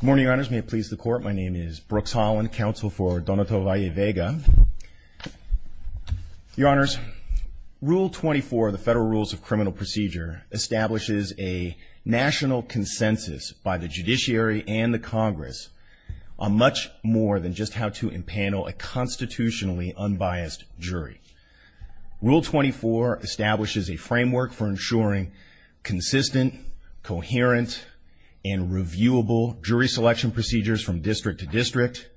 Good morning, your honors. May it please the court, my name is Brooks Holland, counsel for Donato Valle Vega. Your honors, Rule 24 of the Federal Rules of Criminal Procedure establishes a national consensus by the judiciary and the Congress on much more than just how to impanel a constitutionally unbiased jury. Rule 24 establishes a framework for ensuring consistent, coherent, and reviewable jury selection procedures from district to district.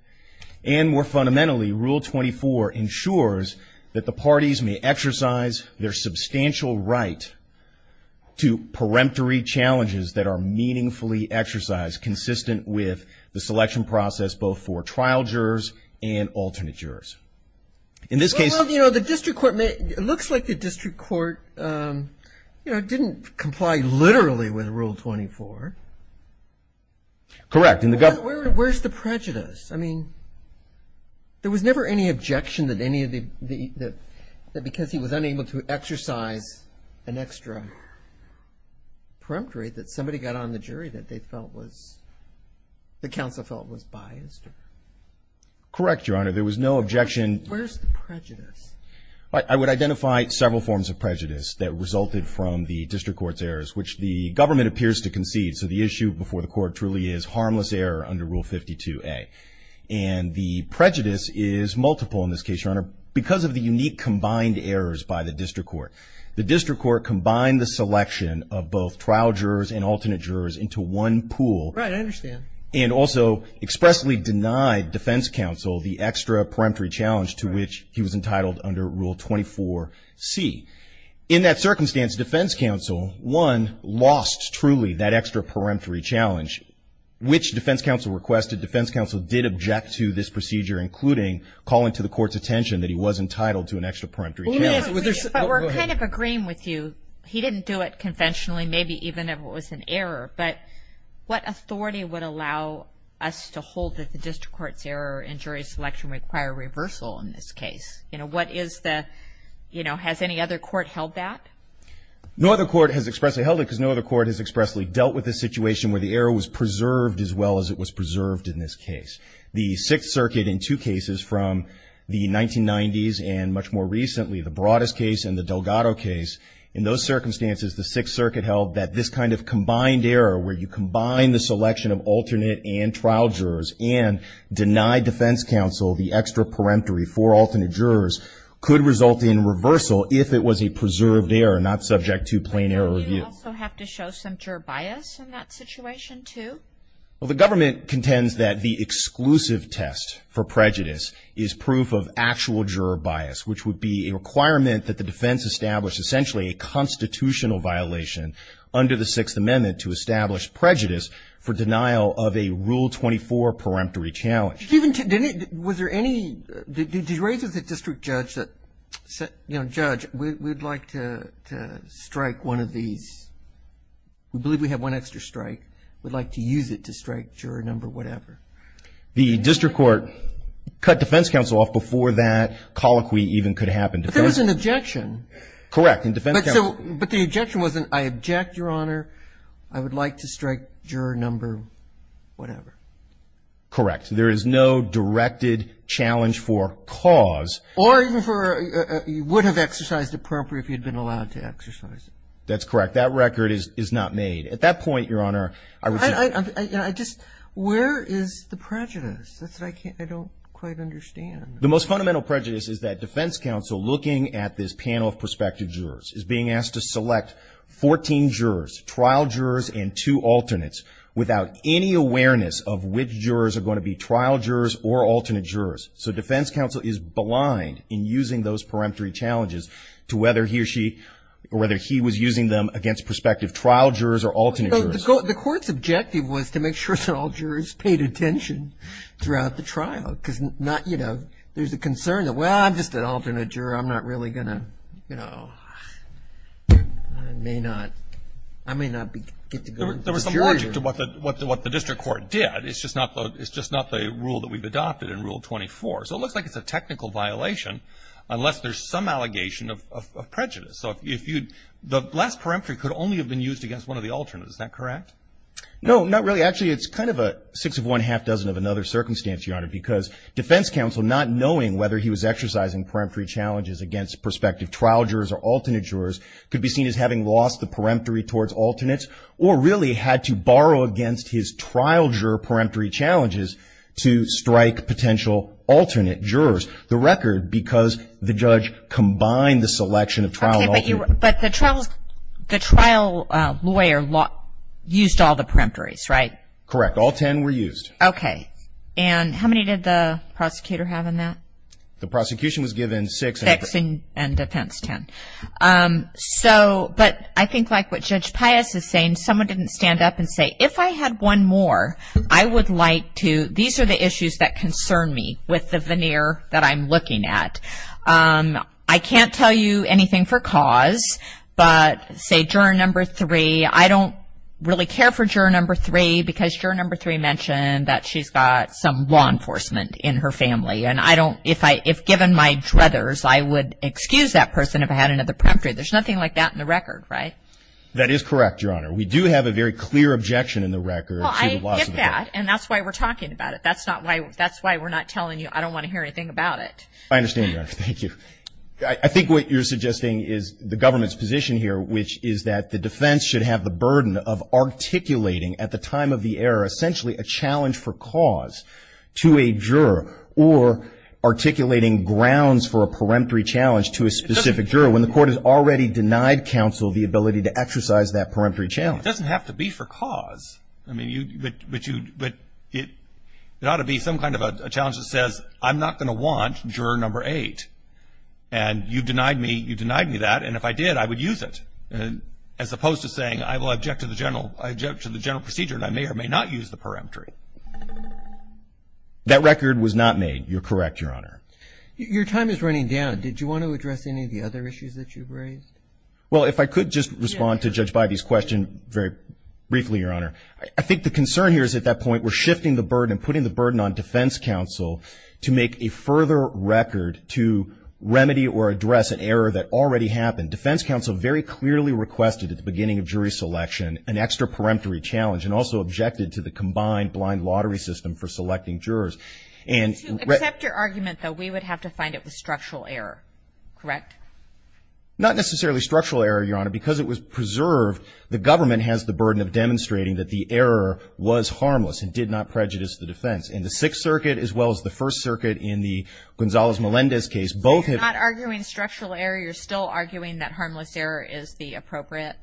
And more fundamentally, Rule 24 ensures that the parties may exercise their substantial right to peremptory challenges that are meaningfully exercised consistent with the selection process both for trial and as jurors. In this case... Well, you know, the district court may... It looks like the district court, you know, didn't comply literally with Rule 24. Correct. And the government... Where's the prejudice? I mean, there was never any objection that any of the... that because he was unable to exercise an extra peremptory that somebody got on the jury that they felt was... that counsel felt was biased. Correct, your honor. There was no objection... Where's the prejudice? I would identify several forms of prejudice that resulted from the district court's errors, which the government appears to concede. So the issue before the court truly is harmless error under Rule 52A. And the prejudice is multiple in this case, your honor, because of the unique combined errors by the district court. The district court combined the selection of both trial jurors and alternate jurors into one pool. Right, I understand. And also expressly denied defense counsel the extra peremptory challenge to which he was entitled under Rule 24C. In that circumstance, defense counsel, one, lost truly that extra peremptory challenge, which defense counsel requested. Defense counsel did object to this procedure, including calling to the court's attention that he was entitled to an extra peremptory challenge. But we're kind of agreeing with you. He didn't do it conventionally. Maybe even if it was an error. But what authority would allow us to hold that the district court's error in jury selection require reversal in this case? You know, what is the... You know, has any other court held that? No other court has expressly held it because no other court has expressly dealt with the situation where the error was preserved as well as it was preserved in this case. The Sixth Circuit in two cases from the 1990s and much more recently, the Broadus case and the Delgado case, in those circumstances, the Sixth Circuit held that this kind of combined error where you combine the selection of alternate and trial jurors and deny defense counsel the extra peremptory for alternate jurors could result in reversal if it was a preserved error, not subject to plain error review. So you also have to show some juror bias in that situation, too? Well, the government contends that the exclusive test for prejudice is proof of actual juror bias, which would be a requirement that the defense establish essentially a constitutional violation under the Sixth Amendment to establish prejudice for denial of a Rule 24 peremptory challenge. Was there any... Did you raise with the district judge that, you know, judge, we'd like to strike one of these... We believe we have one extra strike. We'd like to use it to strike juror number whatever. The district court cut defense counsel off before that colloquy even could happen. But there was an objection. Correct. But the objection wasn't, I object, Your Honor. I would like to strike juror number whatever. Correct. There is no directed challenge for cause. Or even for... You would have exercised it properly if you'd been allowed to exercise it. That's correct. That record is not made. At that point, Your Honor... I just... Where is the prejudice? That's what I can't... I don't quite understand. The most fundamental prejudice is that defense counsel, looking at this panel of prospective jurors, is being asked to select 14 jurors, trial jurors and two alternates, without any awareness of which jurors are going to be trial jurors or alternate jurors. So defense counsel is blind in using those peremptory challenges to whether he or she... Or whether he was using them against prospective trial jurors or alternate jurors. The court's objective was to make sure that all jurors paid attention throughout the trial. Because there's a concern that, well, I'm just an alternate juror. I'm not really going to... I may not get to go... There was some logic to what the district court did. It's just not the rule that we've adopted in Rule 24. So it looks like it's a technical violation unless there's some allegation of prejudice. So if you'd... The last peremptory could only have been used against one of the alternates. Is that correct? No, not really. Actually, it's kind of a six-of-one, half-dozen-of-another circumstance, Your Honor, because defense counsel, not knowing whether he was exercising peremptory challenges against prospective trial jurors or alternate jurors, could be seen as having lost the peremptory towards alternates, or really had to borrow against his trial juror peremptory challenges to strike potential alternate jurors. The record, because the judge combined the selection of trial and alternate... Okay, but the trial lawyer used all the peremptories, right? Correct. All ten were used. Okay. And how many did the prosecutor have in that? The prosecution was given six and defense ten. So, but I think like what Judge Pius is saying, someone didn't stand up and say, if I had one more, I would like to... These are the issues that concern me with the veneer that I'm looking at. I can't tell you anything for cause, but say juror number three, I don't really care for juror number three, because juror number three mentioned that she's got some law enforcement in her family. And I don't... If given my druthers, I would excuse that person if I had another peremptory. There's nothing like that in the record, right? That is correct, Your Honor. We do have a very clear objection in the record to the loss of the court. Well, I get that, and that's why we're talking about it. That's not why... That's why we're not telling you, I don't want to hear anything about it. I understand, Your Honor. Thank you. I think what you're suggesting is the government's position here, which is that the defense should have the burden of articulating, at the time of the error, essentially a challenge for cause to a juror, or articulating grounds for a peremptory challenge to a specific juror. When the court has already denied counsel the ability to exercise that peremptory challenge. It doesn't have to be for cause. I mean, you... But you... But it... It ought to be some kind of a challenge that says, I'm not going to want juror number eight. And you denied me... You denied me that, and if I did, I would use it. As opposed to saying, I will object to the general... I object to the general procedure, and I may or may not use the peremptory. That record was not made. You're correct, Your Honor. Your time is running down. Did you want to address any of the other issues that you've raised? Well, if I could just respond to Judge Bidey's question very briefly, Your Honor. I think the concern here is, at that point, we're shifting the burden, putting the burden on defense counsel to make a further record to remedy or address an error that already happened. Defense counsel very clearly requested, at the beginning of jury selection, an extra peremptory challenge, and also objected to the combined blind lottery system for selecting jurors. To accept your argument, though, we would have to find it was structural error, correct? Not necessarily structural error, Your Honor. Because it was preserved, the government has the burden of demonstrating that the error was harmless and did not prejudice the defense. In the Sixth Circuit, as well as the First Circuit, in the Gonzales-Melendez case, both have... So you're not arguing structural error. You're still arguing that harmless error is the appropriate...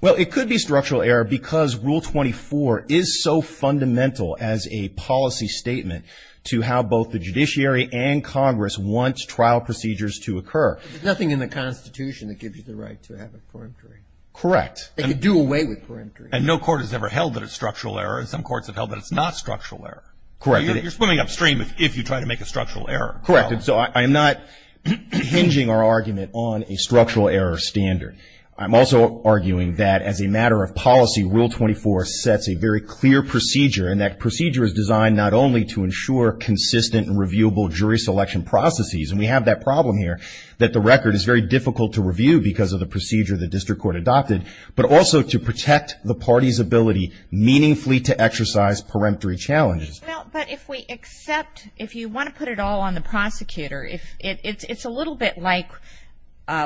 Well, it could be structural error, because Rule 24 is so fundamental as a policy statement, to how both the judiciary and Congress want trial procedures to occur. There's nothing in the Constitution that gives you the right to have a peremptory. Correct. They could do away with peremptory. And no court has ever held that it's structural error. Some courts have held that it's not structural error. Correct. You're swimming upstream if you try to make a structural error. Correct. And so I'm not hinging our argument on a structural error standard. I'm also arguing that, as a matter of policy, Rule 24 sets a very clear procedure, and that procedure is designed not only to ensure consistent and reviewable jury selection processes, and we have that problem here, that the record is very difficult to review because of the procedure the district court adopted, but also to protect the party's ability meaningfully to exercise peremptory challenges. Well, but if we accept... If you want to put it all on the prosecutor, it's a little bit like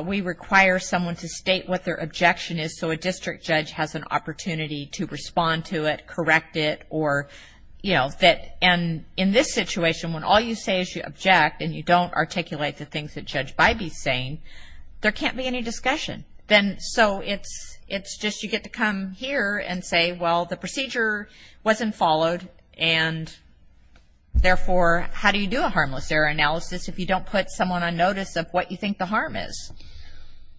we require someone to state what their objection is, and so a district judge has an opportunity to respond to it, correct it, or, you know, that... And in this situation, when all you say is you object, and you don't articulate the things that Judge Bybee's saying, there can't be any discussion. Then... So it's just you get to come here and say, well, the procedure wasn't followed, and therefore, how do you do a harmless error analysis if you don't put someone on notice of what you think the harm is?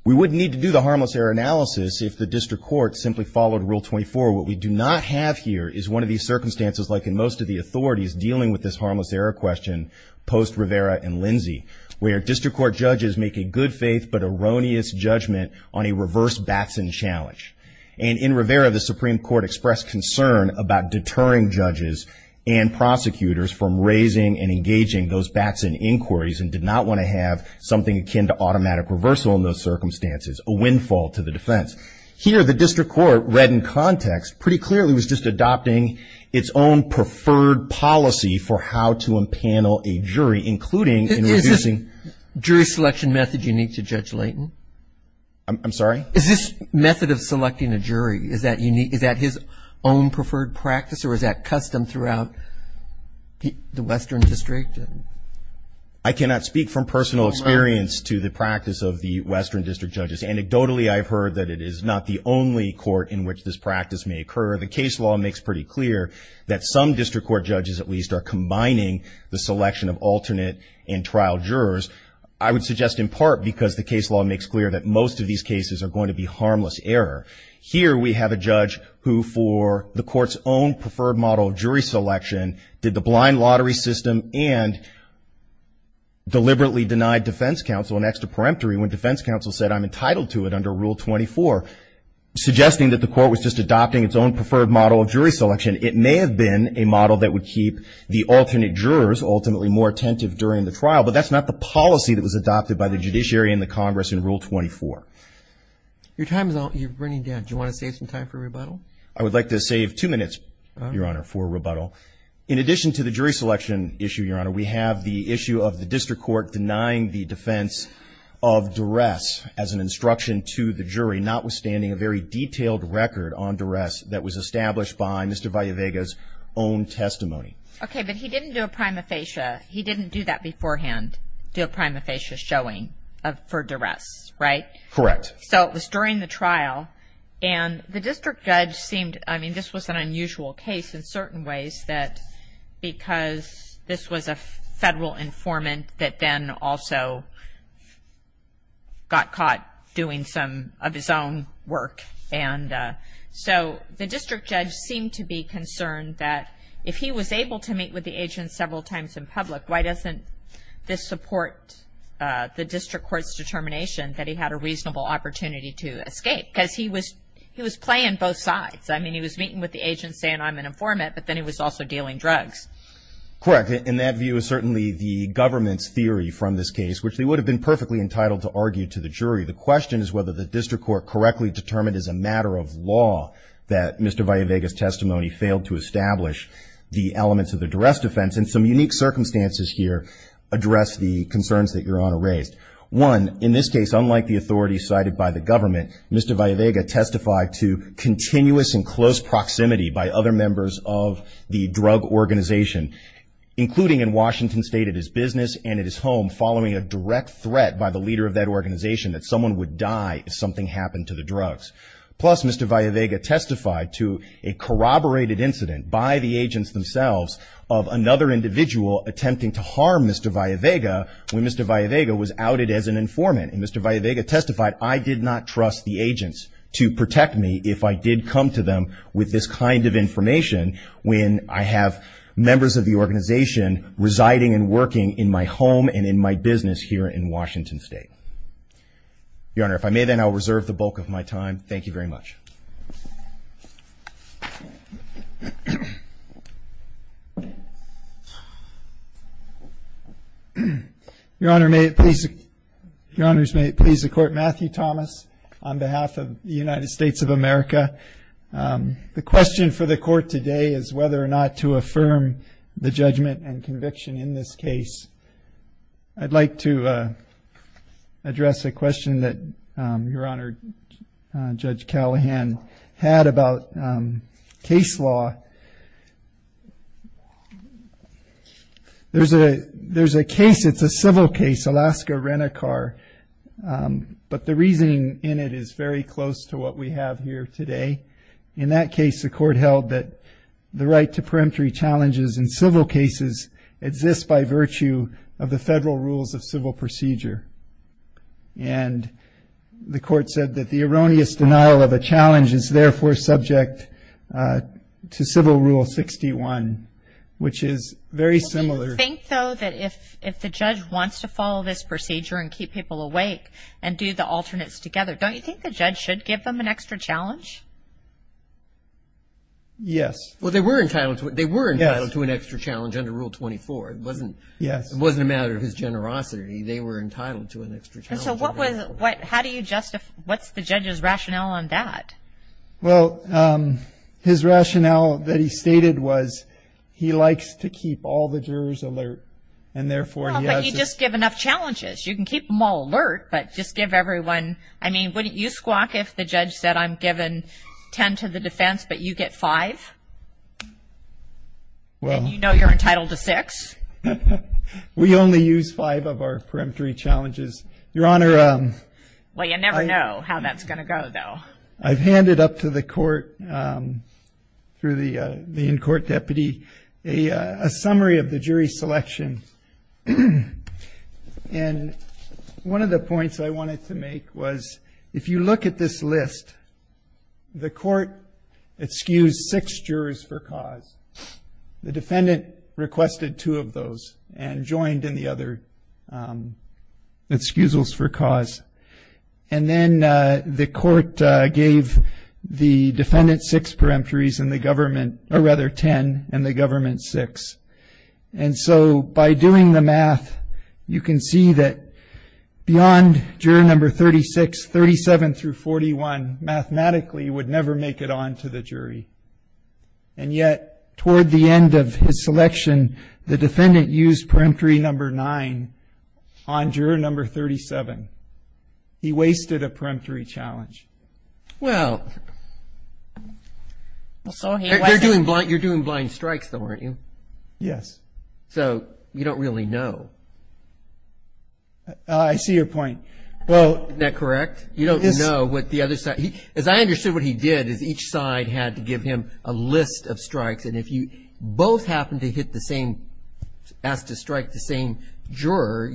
We wouldn't need to do the harmless error analysis if the district court simply followed Rule 24. What we do not have here is one of these circumstances, like in most of the authorities, dealing with this harmless error question post-Rivera and Lindsey, where district court judges make a good-faith but erroneous judgment on a reverse Batson challenge. And in Rivera, the Supreme Court expressed concern about deterring judges and prosecutors from raising and engaging those Batson inquiries and did not want to have something akin to automatic reversal in those circumstances, a windfall to the defense. Here, the district court, read in context, pretty clearly was just adopting its own preferred policy for how to empanel a jury, including in reducing... Is this jury selection method unique to Judge Layton? I'm sorry? Is this method of selecting a jury, is that unique, is that his own preferred practice, or is that custom throughout the Western District? I cannot speak from personal experience to the practice of the Western District judges. Anecdotally, I've heard that it is not the only court in which this practice may occur. The case law makes pretty clear that some district court judges, at least, are combining the selection of alternate and trial jurors. I would suggest in part because the case law makes clear that most of these cases are going to be harmless error. Here, we have a judge who, for the court's own preferred model of jury selection, did the blind lottery system and deliberately denied defense counsel an extra peremptory when defense counsel said, I'm entitled to it under Rule 24, suggesting that the court was just adopting its own preferred model of jury selection. It may have been a model that would keep the alternate jurors, ultimately, more attentive during the trial, but that's not the policy that was adopted by the judiciary and the Congress in Rule 24. Your time is up. You're running down. Do you want to save some time for rebuttal? I would like to save two minutes, Your Honor, for rebuttal. In addition to the jury selection issue, Your Honor, we have the issue of the district court denying the defense of duress as an instruction to the jury, notwithstanding a very detailed record on duress that was established by Mr. Vallevega's own testimony. Okay, but he didn't do a prima facie. He didn't do that beforehand, do a prima facie showing for duress, right? Correct. So it was during the trial, and the district judge seemed, I mean, this was an unusual case in certain ways that because this was a federal informant that then also got caught doing some of his own work. And so the district judge seemed to be concerned that if he was able to meet with the agent several times in public, why doesn't this support the district court's determination that he had a reasonable opportunity to escape? Because he was playing both sides. I mean, he was meeting with the agent saying, I'm an informant, but then he was also dealing drugs. Correct. And that view is certainly the government's theory from this case, which they would have been perfectly entitled to argue to the jury. The question is whether the district court correctly determined as a matter of law that Mr. Vallevega's testimony failed to establish the elements of the duress defense. And some unique circumstances here address the concerns that Your Honor raised. One, in this case, unlike the authority cited by the government, Mr. Vallevega testified to continuous and close proximity by other members of the drug organization, including in Washington State, at his business and at his home, following a direct threat by the leader of that organization that someone would die if something happened to the drugs. Plus, Mr. Vallevega testified to a corroborated incident by the agents themselves of another individual attempting to harm Mr. Vallevega when Mr. Vallevega was outed as an informant. And Mr. Vallevega testified, I did not trust the agents to protect me if I did come to them with this kind of information when I have members of the organization residing and working in my home and in my business here in Washington State. Your Honor, if I may then, I'll reserve the bulk of my time. Thank you very much. Your Honor, may it please, Your Honors, may it please the Court, Matthew Thomas, on behalf of the United States of America. The question for the Court today is whether or not to affirm the judgment and conviction in this case. I'd like to address a question that Your Honor, Judge Callahan, had about case law. There's a, there's a case, it's a civil case, Alaska-Renicar. But the reasoning in it is very close to what we have here today. In that case, the Court held that the right to peremptory challenges in civil cases exists by virtue of the federal rules of civil procedure. And the Court said that the erroneous denial of a challenge is therefore subject to Civil Rule 61, which is very similar. Think, though, that if the judge wants to follow this procedure and keep people awake and do the alternates together, don't you think the judge should give them an extra challenge? Yes. Well, they were entitled to it. They were entitled to an extra challenge under Rule 24. Yes. It wasn't a matter of his generosity. They were entitled to an extra challenge. So what was, what, how do you justify, what's the judge's rationale on that? Well, his rationale that he stated was he likes to keep all the jurors alert, and therefore he has to... Well, but you just give enough challenges. You can keep them all alert, but just give everyone... I mean, wouldn't you squawk if the judge said, I'm giving 10 to the defense, but you get 5? Well... And you know you're entitled to 6? We only use 5 of our peremptory challenges. Your Honor... Well, you never know how that's going to go, though. I've handed up to the court, through the in-court deputy, a summary of the jury selection. And one of the points I wanted to make was, if you look at this list, the court excused 6 jurors for cause. The defendant requested 2 of those and joined in the other excusals for cause. And then the court gave the defendant 6 peremptories and the government, or rather 10, and the government 6. And so by doing the math, you can see that beyond jury number 36, 37 through 41, mathematically you would never make it on to the jury. And yet, toward the end of his selection, the defendant used peremptory number 9 on juror number 37. He wasted a peremptory challenge. Well... You're doing blind strikes, though, aren't you? Yes. So, you don't really know. I see your point. Isn't that correct? You don't know what the other side... As I understood, what he did is each side had to give him a list of strikes. And if you both happened to hit the same... asked to strike the same juror,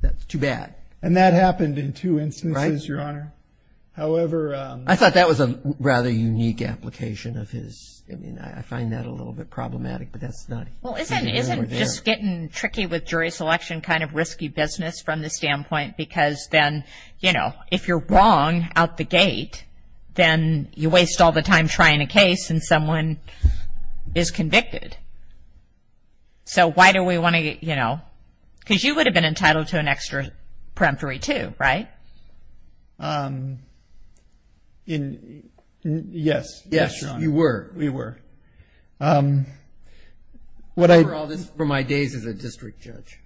that's too bad. And that happened in two instances, Your Honor. However... I thought that was a rather unique application of his... I mean, I find that a little bit problematic, but that's not... Well, isn't just getting tricky with jury selection kind of risky business from the standpoint? Because then, you know, if you're wrong out the gate, then you waste all the time trying a case and someone is convicted. So, why do we want to, you know... Because you would have been entitled to an extra peremptory too, right? Yes. Yes, Your Honor. You were. We were. I remember all this from my days as a district judge.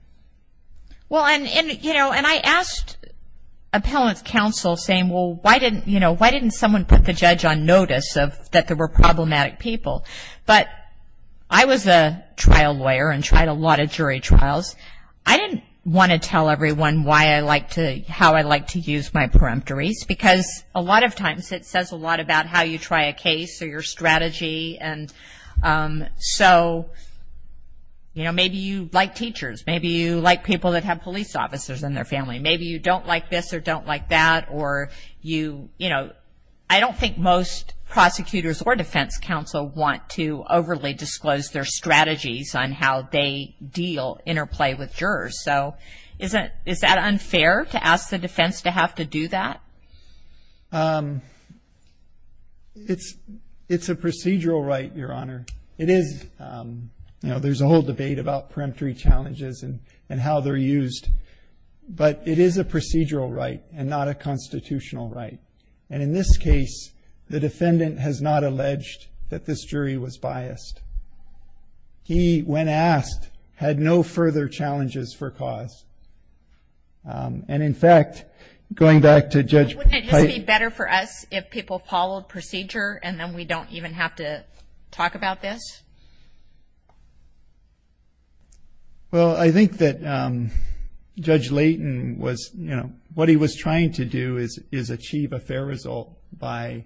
Well, and I asked appellant's counsel saying, well, why didn't someone put the judge on notice that there were problematic people? But I was a trial lawyer and tried a lot of jury trials. I didn't want to tell everyone how I like to use my peremptories, because a lot of times it says a lot about how you try a case or your strategy. And so, you know, maybe you like teachers. Maybe you like people that have police officers in their family. Maybe you don't like this or don't like that or you, you know... I don't think most prosecutors or defense counsel want to overly disclose their strategies on how they deal, interplay with jurors. So, is that unfair to ask the defense to have to do that? It's a procedural right, Your Honor. It is. You know, there's a whole debate about peremptory challenges and how they're used. But it is a procedural right and not a constitutional right. And in this case, the defendant has not alleged that this jury was biased. He, when asked, had no further challenges for cause. And in fact, going back to Judge Pipe... Wouldn't it just be better for us if people followed procedure and then we don't even have to talk about this? Well, I think that Judge Layton was, you know... What he was trying to do is achieve a fair result by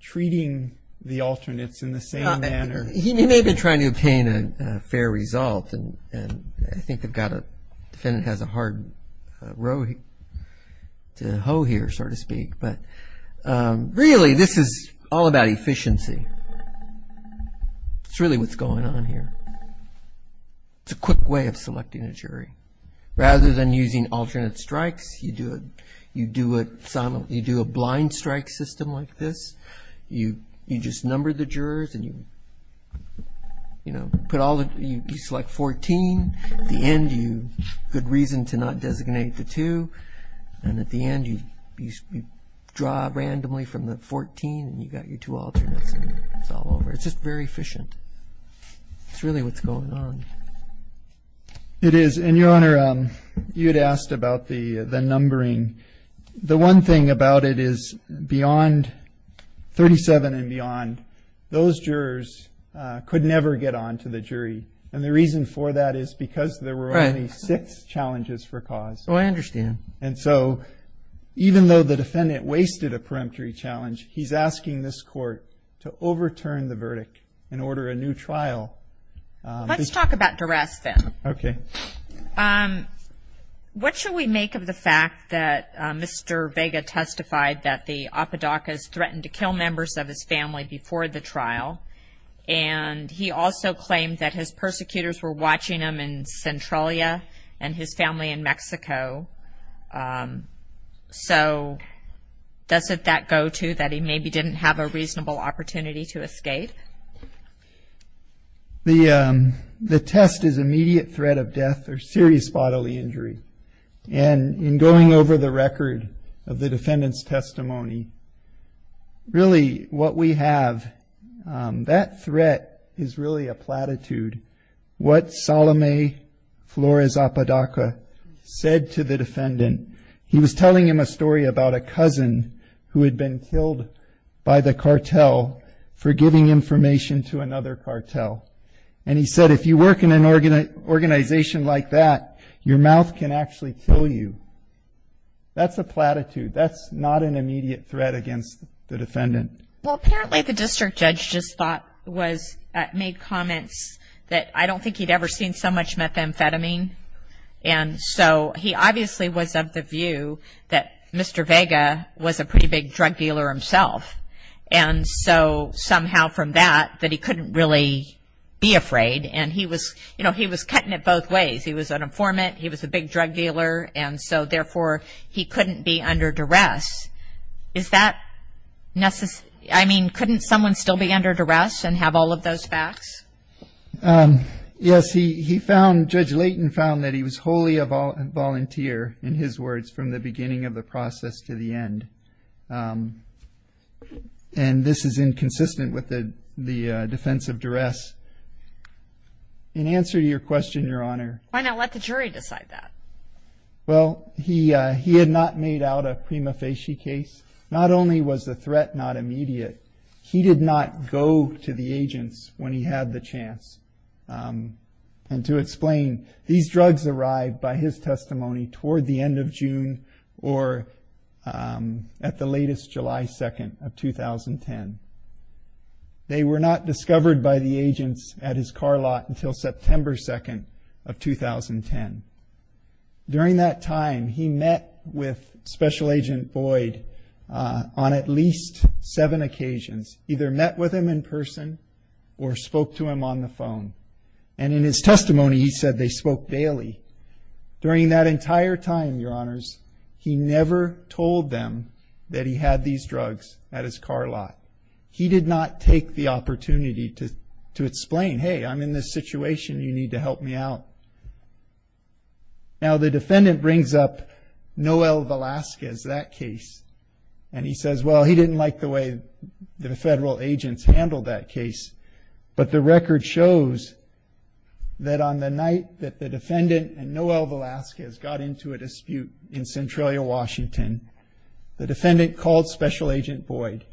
treating the alternates in the same manner. He may have been trying to obtain a fair result. And I think they've got a... The defendant has a hard row to hoe here, so to speak. But really, this is all about efficiency. It's really what's going on here. It's a quick way of selecting a jury. Rather than using alternate strikes, you do a blind strike system like this. You just number the jurors and you select 14. At the end, good reason to not designate the two. And at the end, you draw randomly from the 14 and you've got your two alternates. It's all over. It's just very efficient. It's really what's going on. It is. And, Your Honor, you had asked about the numbering. The one thing about it is, beyond 37 and beyond, those jurors could never get on to the jury. And the reason for that is because there were only six challenges for cause. Oh, I understand. And so, even though the defendant wasted a peremptory challenge, he's asking this Court to overturn the verdict and order a new trial. Let's talk about duress, then. Okay. What should we make of the fact that Mr. Vega testified that the Apodacas threatened to kill members of his family before the trial? And he also claimed that his persecutors were watching him in Centralia and his family in Mexico. So, doesn't that go to that he maybe didn't have a reasonable opportunity to escape? The test is immediate threat of death or serious bodily injury. And in going over the record of the defendant's testimony, really what we have, that threat is really a platitude. What Salome Flores Apodaca said to the defendant, he was telling him a story about a cousin who had been killed by the cartel for giving information to another cartel. And he said, if you work in an organization like that, your mouth can actually kill you. That's a platitude. That's not an immediate threat against the defendant. Well, apparently the district judge just thought, made comments that I don't think he'd ever seen so much methamphetamine. And so, he obviously was of the view that Mr. Vega was a pretty big drug dealer himself. And so, somehow from that, that he couldn't really be afraid. And he was, you know, he was cutting it both ways. He was an informant, he was a big drug dealer. And so, therefore, he couldn't be under duress. Is that necessary? I mean, couldn't someone still be under duress and have all of those facts? Yes, he found, Judge Layton found that he was wholly a volunteer, in his words, from the beginning of the process to the end. And this is inconsistent with the defense of duress. In answer to your question, Your Honor. Why not let the jury decide that? Well, he had not made out a prima facie case. Not only was the threat not immediate, he did not go to the agents when he had the chance. And to explain, these drugs arrived by his testimony toward the end of June or at the latest July 2nd of 2010. They were not discovered by the agents at his car lot until September 2nd of 2010. During that time, he met with Special Agent Boyd on at least seven occasions. Either met with him in person or spoke to him on the phone. And in his testimony, he said they spoke daily. During that entire time, Your Honors, he never told them that he had these drugs at his car lot. He did not take the opportunity to explain, hey, I'm in this situation, you need to help me out. Now, the defendant brings up Noel Velazquez, that case. And he says, well, he didn't like the way the federal agents handled that case. But the record shows that on the night that the defendant and Noel Velazquez got into a dispute in Centralia, Washington, the defendant called Special Agent Boyd.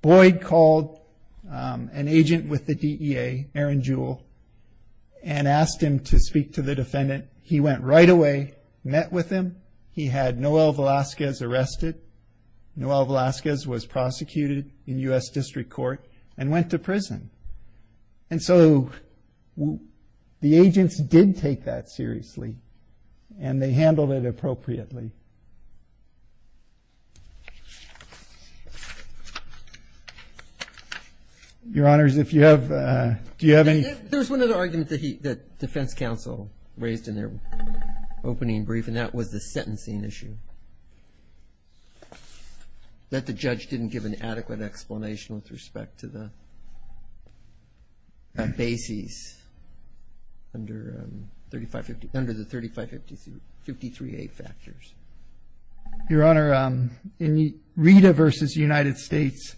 Boyd called an agent with the DEA, Aaron Jewell, and asked him to speak to the defendant. He went right away, met with him, he had Noel Velazquez arrested. Noel Velazquez was prosecuted in U.S. District Court and went to prison. And so, the agents did take that seriously and they handled it appropriately. Your Honors, if you have, do you have any... There's one other argument that Defense Counsel raised in their opening brief, and that was the sentencing issue. That the judge didn't give an adequate explanation with respect to the basis under the 3553A factors. Your Honor, in Rita v. United States,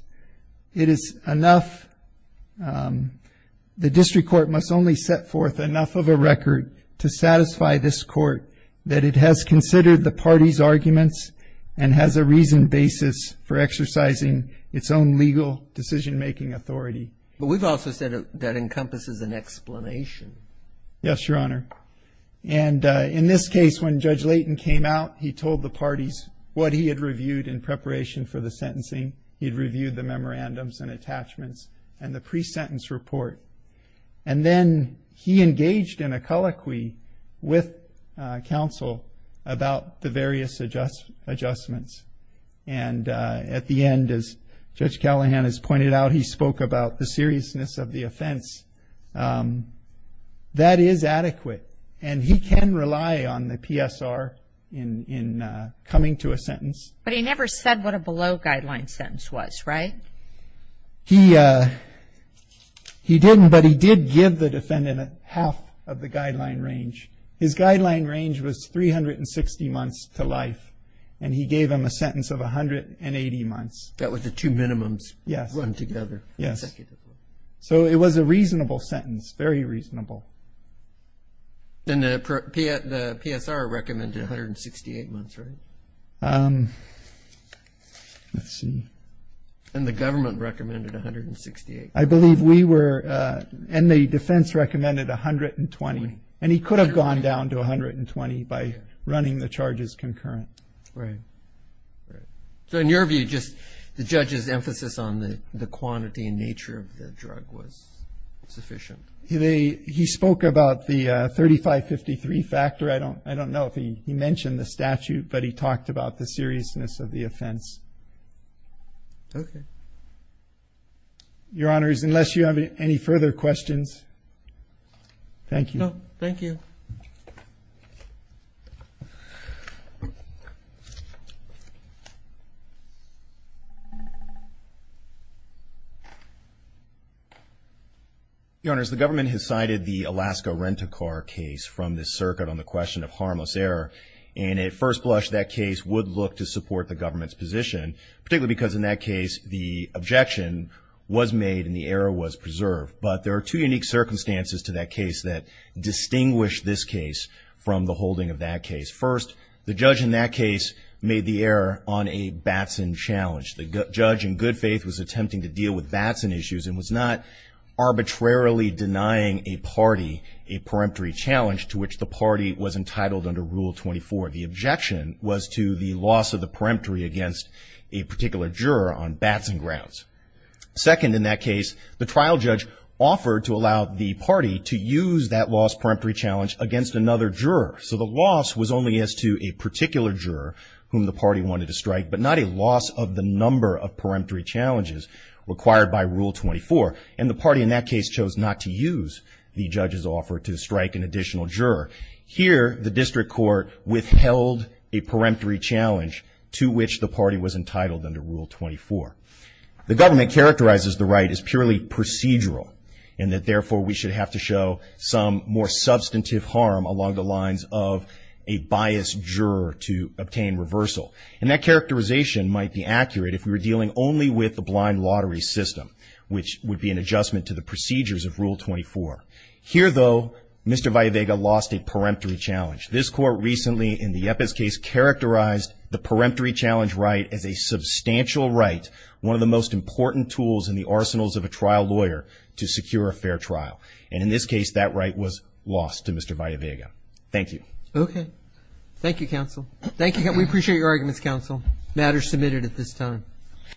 it is enough, the district court must only set forth enough of a record to satisfy this court that it has considered the party's arguments and has a reasoned basis for exercising its own legal decision-making authority. But we've also said that encompasses an explanation. Yes, Your Honor. And in this case, when Judge Layton came out, he told the parties what he had reviewed in preparation for the sentencing. He'd reviewed the memorandums and attachments and the pre-sentence report. And then, he engaged in a colloquy with counsel about the various adjustments. And at the end, as Judge Callahan has pointed out, he spoke about the seriousness of the offense. That is adequate. And he can rely on the PSR in coming to a sentence. But he never said what a below-guideline sentence was, right? He didn't, but he did give the defendant half of the guideline range. His guideline range was 360 months to life. And he gave him a sentence of 180 months. That was the two minimums run together. Yes. So, it was a reasonable sentence, very reasonable. And the PSR recommended 168 months, right? Let's see. And the government recommended 168. I believe we were, and the defense recommended 120. And he could have gone down to 120 by running the charges concurrent. Right. So, in your view, just the judge's emphasis on the quantity and nature of the drug was sufficient. He spoke about the 3553 factor. I don't know if he mentioned the statute, but he talked about the seriousness of the offense. Okay. Your Honors, unless you have any further questions, thank you. No, thank you. Thank you. Your Honors, the government has cited the Alaska Rent-A-Car case from the circuit on the question of harmless error. And at first blush, that case would look to support the government's position. Particularly because in that case, the objection was made and the error was preserved. But there are two unique circumstances to that case that distinguish this case from the holding of that case. First, the judge in that case made the error on a Batson challenge. The judge in good faith was attempting to deal with Batson issues and was not arbitrarily denying a party a peremptory challenge to which the party was entitled under Rule 24. The objection was to the loss of the peremptory against a particular juror on Batson grounds. Second, in that case, the trial judge offered to allow the party to use that lost peremptory challenge against another juror. So the loss was only as to a particular juror whom the party wanted to strike. But not a loss of the number of peremptory challenges required by Rule 24. And the party in that case chose not to use the judge's offer to strike an additional juror. Here, the district court withheld a peremptory challenge to which the party was entitled under Rule 24. The government characterizes the right as purely procedural. And that, therefore, we should have to show some more substantive harm along the lines of a biased juror to obtain reversal. And that characterization might be accurate if we were dealing only with the blind lottery system, which would be an adjustment to the procedures of Rule 24. Here, though, Mr. Vallevega lost a peremptory challenge. This court recently, in the Yepez case, characterized the peremptory challenge right as a substantial right, one of the most important tools in the arsenals of a trial lawyer to secure a fair trial. And in this case, that right was lost to Mr. Vallevega. Thank you. Okay. Thank you, counsel. Thank you. We appreciate your arguments, counsel. Matter submitted at this time.